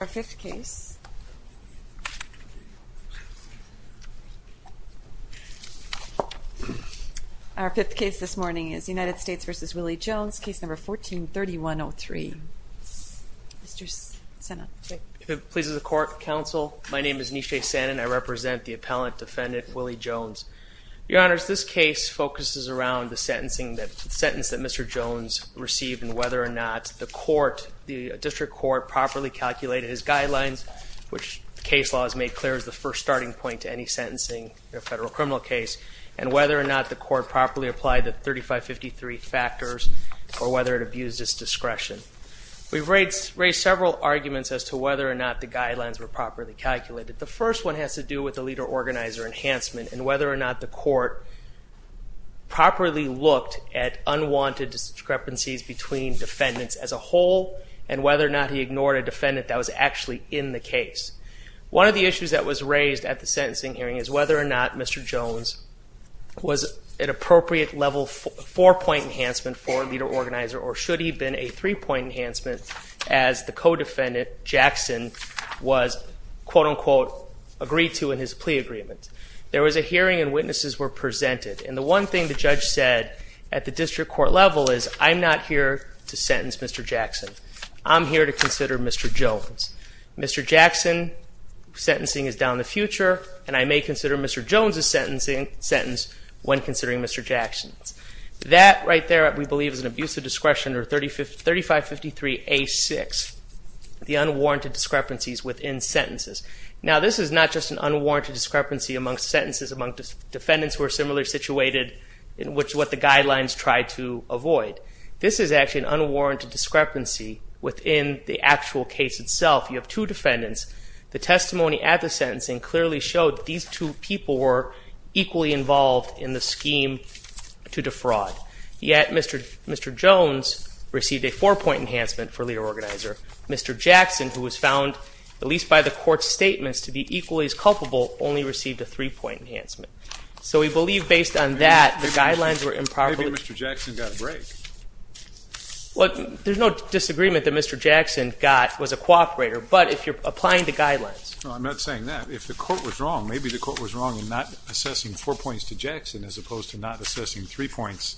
Our fifth case this morning is United States v. Willie Jones, case number 14-3103. If it pleases the court, counsel, my name is Nishe Sanon. I represent the appellant, defendant Willie Jones. Your honors, this case focuses around the sentence that Mr. Jones received and whether or not the court, the district court, properly calculated his guidelines, which the case law has made clear as the first starting point to any sentencing in a federal criminal case, and whether or not the court properly applied the 3553 factors or whether it abused his discretion. We've raised several arguments as to whether or not the guidelines were properly calculated. The first one has to do with the leader-organizer enhancement and whether or not the court properly looked at unwanted discrepancies between defendants as a whole and whether or not he ignored a defendant that was actually in the case. One of the issues that was raised at the sentencing hearing is whether or not Mr. Jones was an appropriate level four-point enhancement for a leader-organizer or should he have been a three-point enhancement as the co-defendant, Jackson, was quote-unquote agreed to in his plea agreement. There was a hearing and witnesses were presented, and the one thing the judge said at the district court level is, I'm not here to sentence Mr. Jackson. I'm here to consider Mr. Jones. Mr. Jackson's sentencing is down the future, and I may consider Mr. Jones's sentence when considering Mr. Jackson's. That right there, we believe, is an abuse of discretion or 3553A6, the unwarranted discrepancies within sentences. Now, this is not just an unwarranted discrepancy among sentences, among defendants who are similarly situated in what the guidelines try to avoid. This is actually an unwarranted discrepancy within the actual case itself. You have two defendants. The testimony at the sentencing clearly showed that these two people were equally involved in the scheme to defraud. Yet, Mr. Jones received a four-point enhancement for leader-organizer. Mr. Jackson, who was found, at least by the court's statements, to be equally as culpable, only received a three-point enhancement. So we believe, based on that, the guidelines were improperly- Maybe Mr. Jackson got a break. Well, there's no disagreement that Mr. Jackson was a cooperator, but if you're applying the guidelines. Well, I'm not saying that. If the court was wrong, maybe the court was wrong in not assessing four points to Jackson as opposed to not assessing three points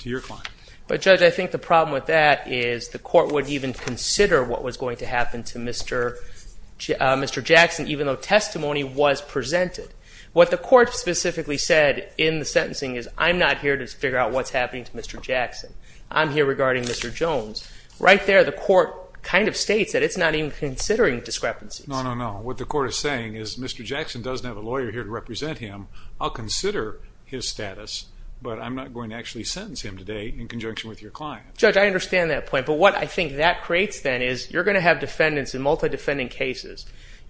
to your client. But, Judge, I think the problem with that is the court would even consider what was going to happen to Mr. Jackson, even though testimony was presented. What the court specifically said in the sentencing is, I'm not here to figure out what's happening to Mr. Jackson. I'm here regarding Mr. Jones. Right there, the court kind of states that it's not even considering discrepancies. No, no, no. What the court is saying is, Mr. Jackson doesn't have a lawyer here to represent him. I'll consider his status, but I'm not going to actually sentence him today in conjunction with your client. Judge, I understand that point. But what I think that creates, then, is you're going to have defendants in multi-defending cases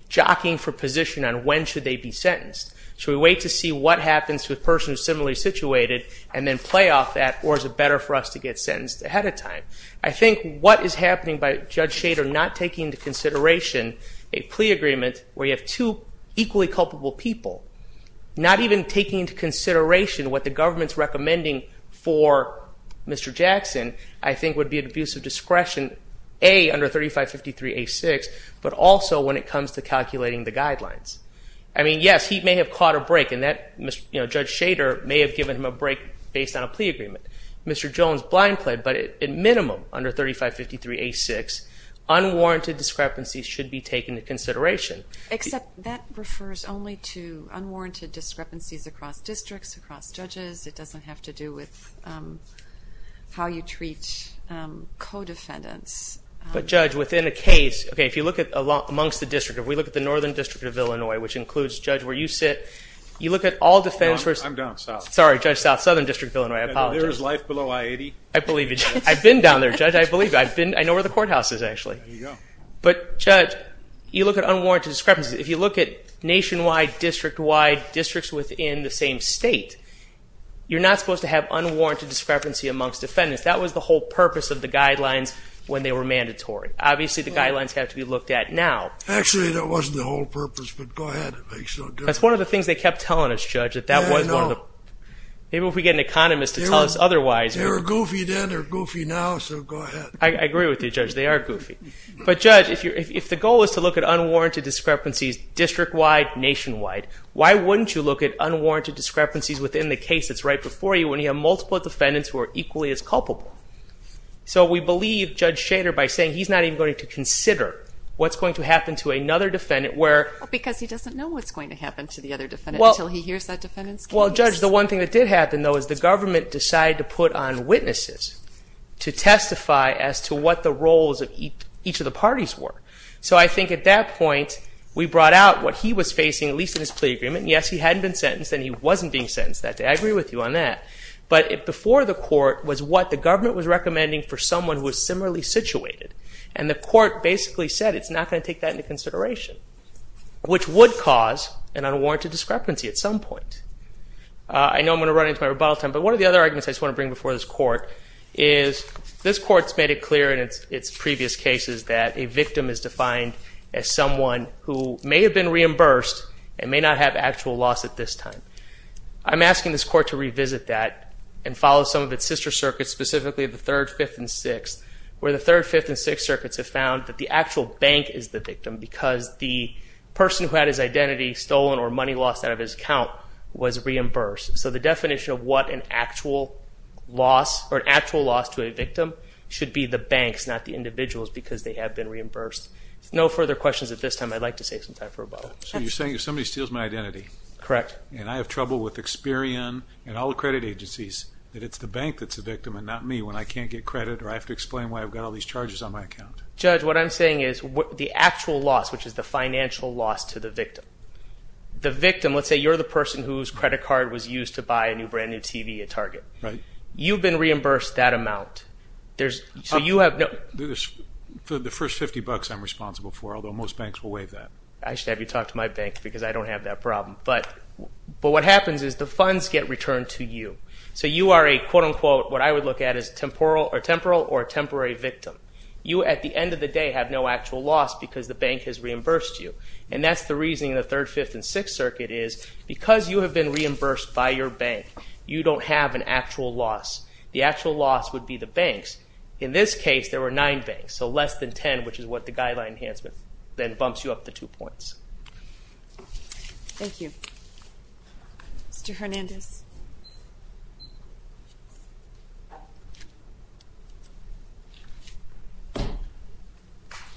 jockeying for position on when should they be sentenced. Should we wait to see what happens to a person who's similarly situated, and then play off that? Or is it better for us to get sentenced ahead of time? I think what is happening by Judge Shader not taking into consideration a plea agreement where you have two equally culpable people, not even taking into consideration what the government's recommending for Mr. Jackson, I think would be an abuse of discretion, A, under 3553A6, but also when it comes to calculating the guidelines. I mean, yes, he may have caught a break, and Judge Shader may have given him a break based on a plea agreement. Mr. Jones blind played, but at minimum, under 3553A6, unwarranted discrepancies should be taken into consideration. Except that refers only to unwarranted discrepancies across districts, across judges. It doesn't have to do with how you treat co-defendants. But Judge, within a case, okay, if you look at amongst the district, if we look at the Northern District of Illinois, which includes, Judge, where you sit. You look at all defenders. I'm down south. Sorry, Judge South, Southern District of Illinois, I apologize. And there's life below I-80. I believe you, Judge. I've been down there, Judge, I believe you. I've been, I know where the courthouse is, actually. There you go. But, Judge, you look at unwarranted discrepancies. If you look at nationwide, district-wide, districts within the same state, you're not supposed to have unwarranted discrepancy amongst defendants. That was the whole purpose of the guidelines when they were mandatory. Obviously, the guidelines have to be looked at now. Actually, that wasn't the whole purpose, but go ahead. It makes no difference. That's one of the things they kept telling us, Judge, that that was one of the. Yeah, I know. Maybe if we get an economist to tell us otherwise. They were goofy then, they're goofy now, so go ahead. I agree with you, Judge, they are goofy. But, Judge, if the goal is to look at unwarranted discrepancies district-wide, nationwide, why wouldn't you look at unwarranted discrepancies within the case that's right before you when you have multiple defendants who are equally as culpable? So, we believe, Judge Shader, by saying he's not even going to consider what's going to happen to another defendant where- Because he doesn't know what's going to happen to the other defendant until he hears that defendant's case. Well, Judge, the one thing that did happen, though, is the government decided to put on witnesses to testify as to what the roles of each of the parties were. So, I think at that point, we brought out what he was facing, at least in his plea agreement. Yes, he hadn't been sentenced and he wasn't being sentenced that day. I agree with you on that. But, before the court was what the government was recommending for someone who was similarly situated. And the court basically said it's not going to take that into consideration, which would cause an unwarranted discrepancy at some point. I know I'm going to run into my rebuttal time, but one of the other arguments I just want to bring before this court is this court's made it clear in its previous cases that a victim is defined as someone who may have been reimbursed and may not have actual loss at this time. I'm asking this court to revisit that and follow some of its sister circuits, specifically the Third, Fifth, and Sixth, where the Third, Fifth, and Sixth circuits have found that the actual bank is the victim because the person who had his identity stolen or money lost out of his account was reimbursed. So, the definition of what an actual loss to a victim should be, the bank's, not the individual's, because they have been reimbursed. No further questions at this time. I'd like to save some time for rebuttal. So, you're saying if somebody steals my identity. Correct. And I have trouble with Experian and all the credit agencies, that it's the bank that's the victim and not me when I can't get credit or I have to explain why I've got all these charges on my account. Judge, what I'm saying is the actual loss, which is the financial loss to the victim. The victim, let's say you're the person whose credit card was used to buy a new brand-new TV at Target. Right. You've been reimbursed that amount. There's, so you have no. The first 50 bucks I'm responsible for, although most banks will waive that. I should have you talk to my bank because I don't have that problem. But what happens is the funds get returned to you. So, you are a, quote, unquote, what I would look at as temporal or temporary victim. You, at the end of the day, have no actual loss because the bank has reimbursed you. And that's the reasoning in the Third, Fifth, and Sixth Circuit is, because you have been reimbursed by your bank, you don't have an actual loss. The actual loss would be the bank's. In this case, there were nine banks, so less than 10, which is what the guideline enhancement then bumps you up to two points. Thank you. Mr. Hernandez.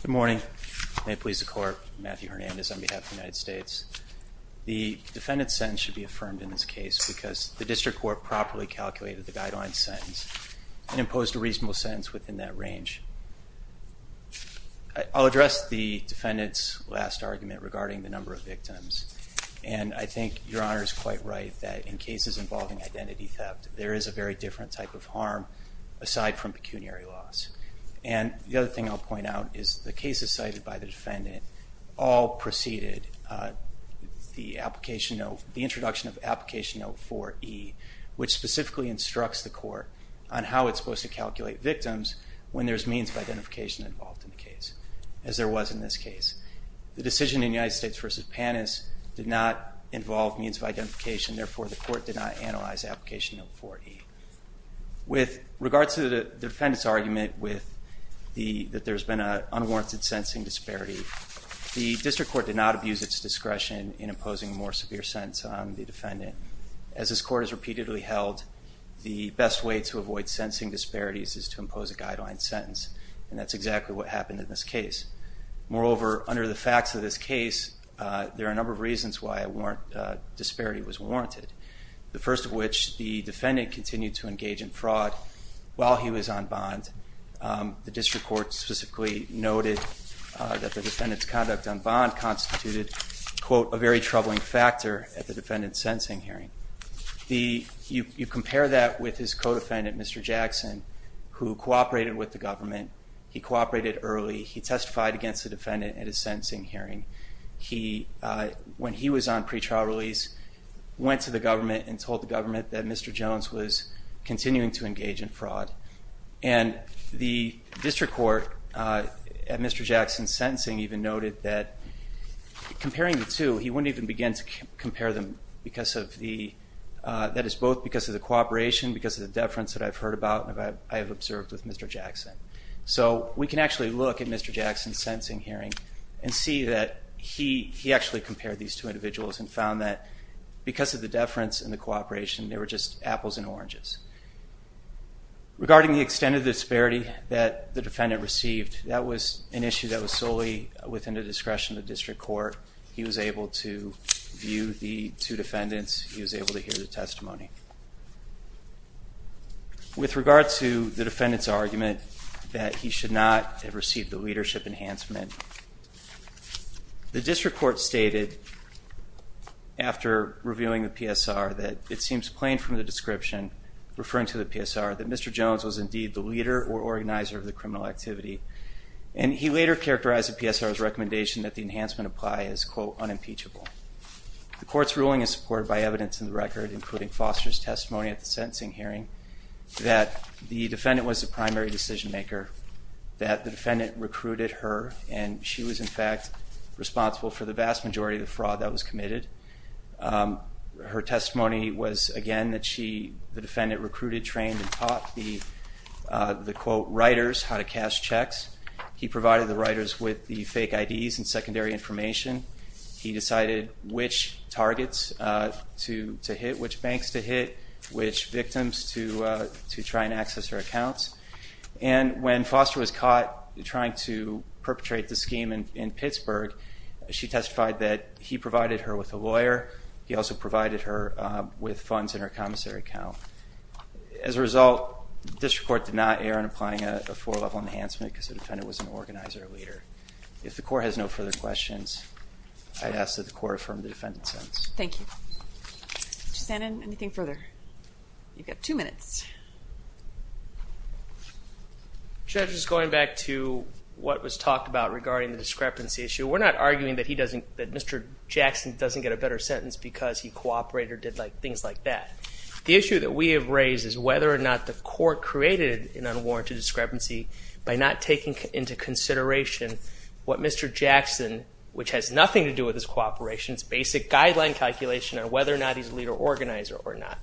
Good morning. May it please the court, Matthew Hernandez on behalf of the United States. The defendant's sentence should be affirmed in this case because the district court properly calculated the guideline sentence and imposed a reasonable sentence within that range. I'll address the defendant's last argument regarding the number of victims. And I think your honor is quite right that in cases involving identity theft, there is a very different type of harm aside from pecuniary loss. And the other thing I'll point out is the cases cited by the defendant all preceded the introduction of Application Note 4E, which specifically instructs the court on how it's supposed to calculate victims when there's means of identification involved in the case, as there was in this case. The decision in United States v. Panis did not involve means of identification, therefore, the court did not analyze Application Note 4E. With regards to the defendant's argument that there's been an unwarranted sensing disparity, the district court did not abuse its discretion in imposing a more severe sentence on the defendant. As this court has repeatedly held, the best way to avoid sensing disparities is to impose a guideline sentence, and that's exactly what happened in this case. Moreover, under the facts of this case, there are a number of reasons why a disparity was warranted. The first of which, the defendant continued to engage in fraud while he was on bond. The district court specifically noted that the defendant's conduct on bond constituted, quote, a very troubling factor at the defendant's sentencing hearing. You compare that with his co-defendant, Mr. Jackson, who cooperated with the government. He cooperated early, he testified against the defendant at his sentencing hearing. He, when he was on pre-trial release, went to the government and told the government that Mr. Jones was continuing to engage in fraud. And the district court, at Mr. Jackson's sentencing, even noted that comparing the two, he wouldn't even begin to compare them because of the, that is both because of the cooperation, because of the deference that I've heard about and that I have observed with Mr. Jackson. So we can actually look at Mr. Jackson's sentencing hearing and see that he, he actually compared these two individuals and found that because of the deference and the cooperation, they were just apples and oranges. Regarding the extent of the disparity that the defendant received, that was an issue that was solely within the discretion of the district court. He was able to view the two defendants, he was able to hear the testimony. With regard to the defendant's argument that he should not have received the leadership enhancement, the district court stated after reviewing the PSR that it seems plain from the description referring to the PSR that Mr. Jones was indeed the leader or organizer of the criminal activity. And he later characterized the PSR's recommendation that the enhancement apply as, quote, unimpeachable. The court's ruling is supported by evidence in the record, including Foster's testimony at the sentencing hearing, that the defendant was the primary decision maker, that the defendant recruited her and she was in fact responsible for the vast majority of the fraud that was committed. Her testimony was, again, that she, the defendant recruited, trained, and taught the, the quote, writers how to cash checks. He provided the writers with the fake IDs and secondary information. He decided which targets to, to hit, which banks to hit, which victims to to try and access her accounts. And when Foster was caught trying to perpetrate the scheme in, in Pittsburgh, she testified that he provided her with a lawyer. He also provided her with funds in her commissary account. As a result, district court did not err on applying a, a four level enhancement because the defendant was an organizer or leader. If the court has no further questions, I'd ask that the court affirm the defendant's sentence. Thank you. Shannon, anything further? You've got two minutes. Judge, just going back to what was talked about regarding the discrepancy issue. We're not arguing that he doesn't, that Mr. Jackson doesn't get a better sentence because he cooperated or did like, things like that. The issue that we have raised is whether or not the court created an unwarranted discrepancy by not taking into consideration what Mr. Jackson, which has nothing to do with his cooperation, it's basic guideline calculation on whether or not he's a leader organizer or not.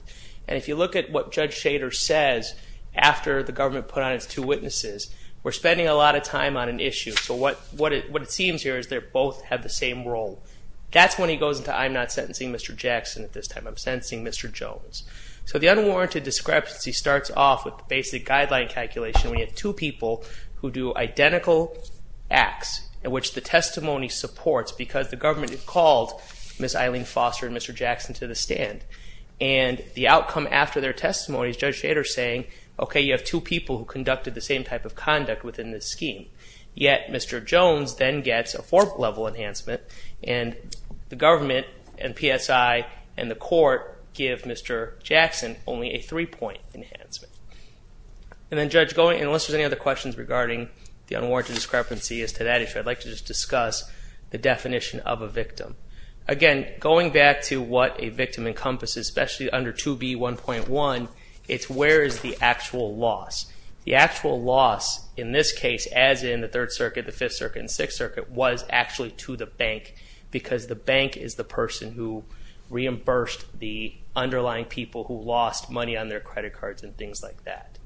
And if you look at what Judge Shader says after the government put on its two witnesses, we're spending a lot of time on an issue. So what, what it, what it seems here is they both have the same role. That's when he goes into I'm not sentencing Mr. Jackson at this time, I'm sentencing Mr. Jones. So the unwarranted discrepancy starts off with basic guideline calculation. We have two people who do identical acts in which the testimony supports because the government had called Ms. Eileen Foster and Mr. Jackson to the stand and the outcome after their testimonies, Judge Shader saying, okay, you have two people who conducted the same type of conduct within this scheme. Yet Mr. Jones then gets a fourth level enhancement and the government and PSI and the governor Jackson only a three point enhancement. And then judge going, unless there's any other questions regarding the unwarranted discrepancy as to that issue, I'd like to just discuss the definition of a victim. Again, going back to what a victim encompasses, especially under 2B1.1 it's where is the actual loss? The actual loss in this case, as in the third circuit, the fifth circuit and sixth circuit was actually to the bank because the bank is the person who reimbursed the underlying people who lost money on their credit cards and things like that.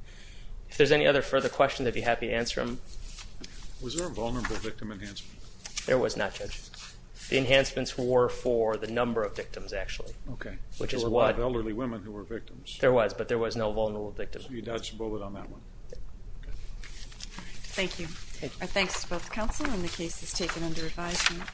If there's any other further questions, I'd be happy to answer them. Was there a vulnerable victim enhancement? There was not judge. The enhancements were for the number of victims actually. Okay. Which is what elderly women who were victims. There was, but there was no vulnerable victims. You dodged a bullet on that one. Thank you. Our thanks to both the council and the case is taken under advisement.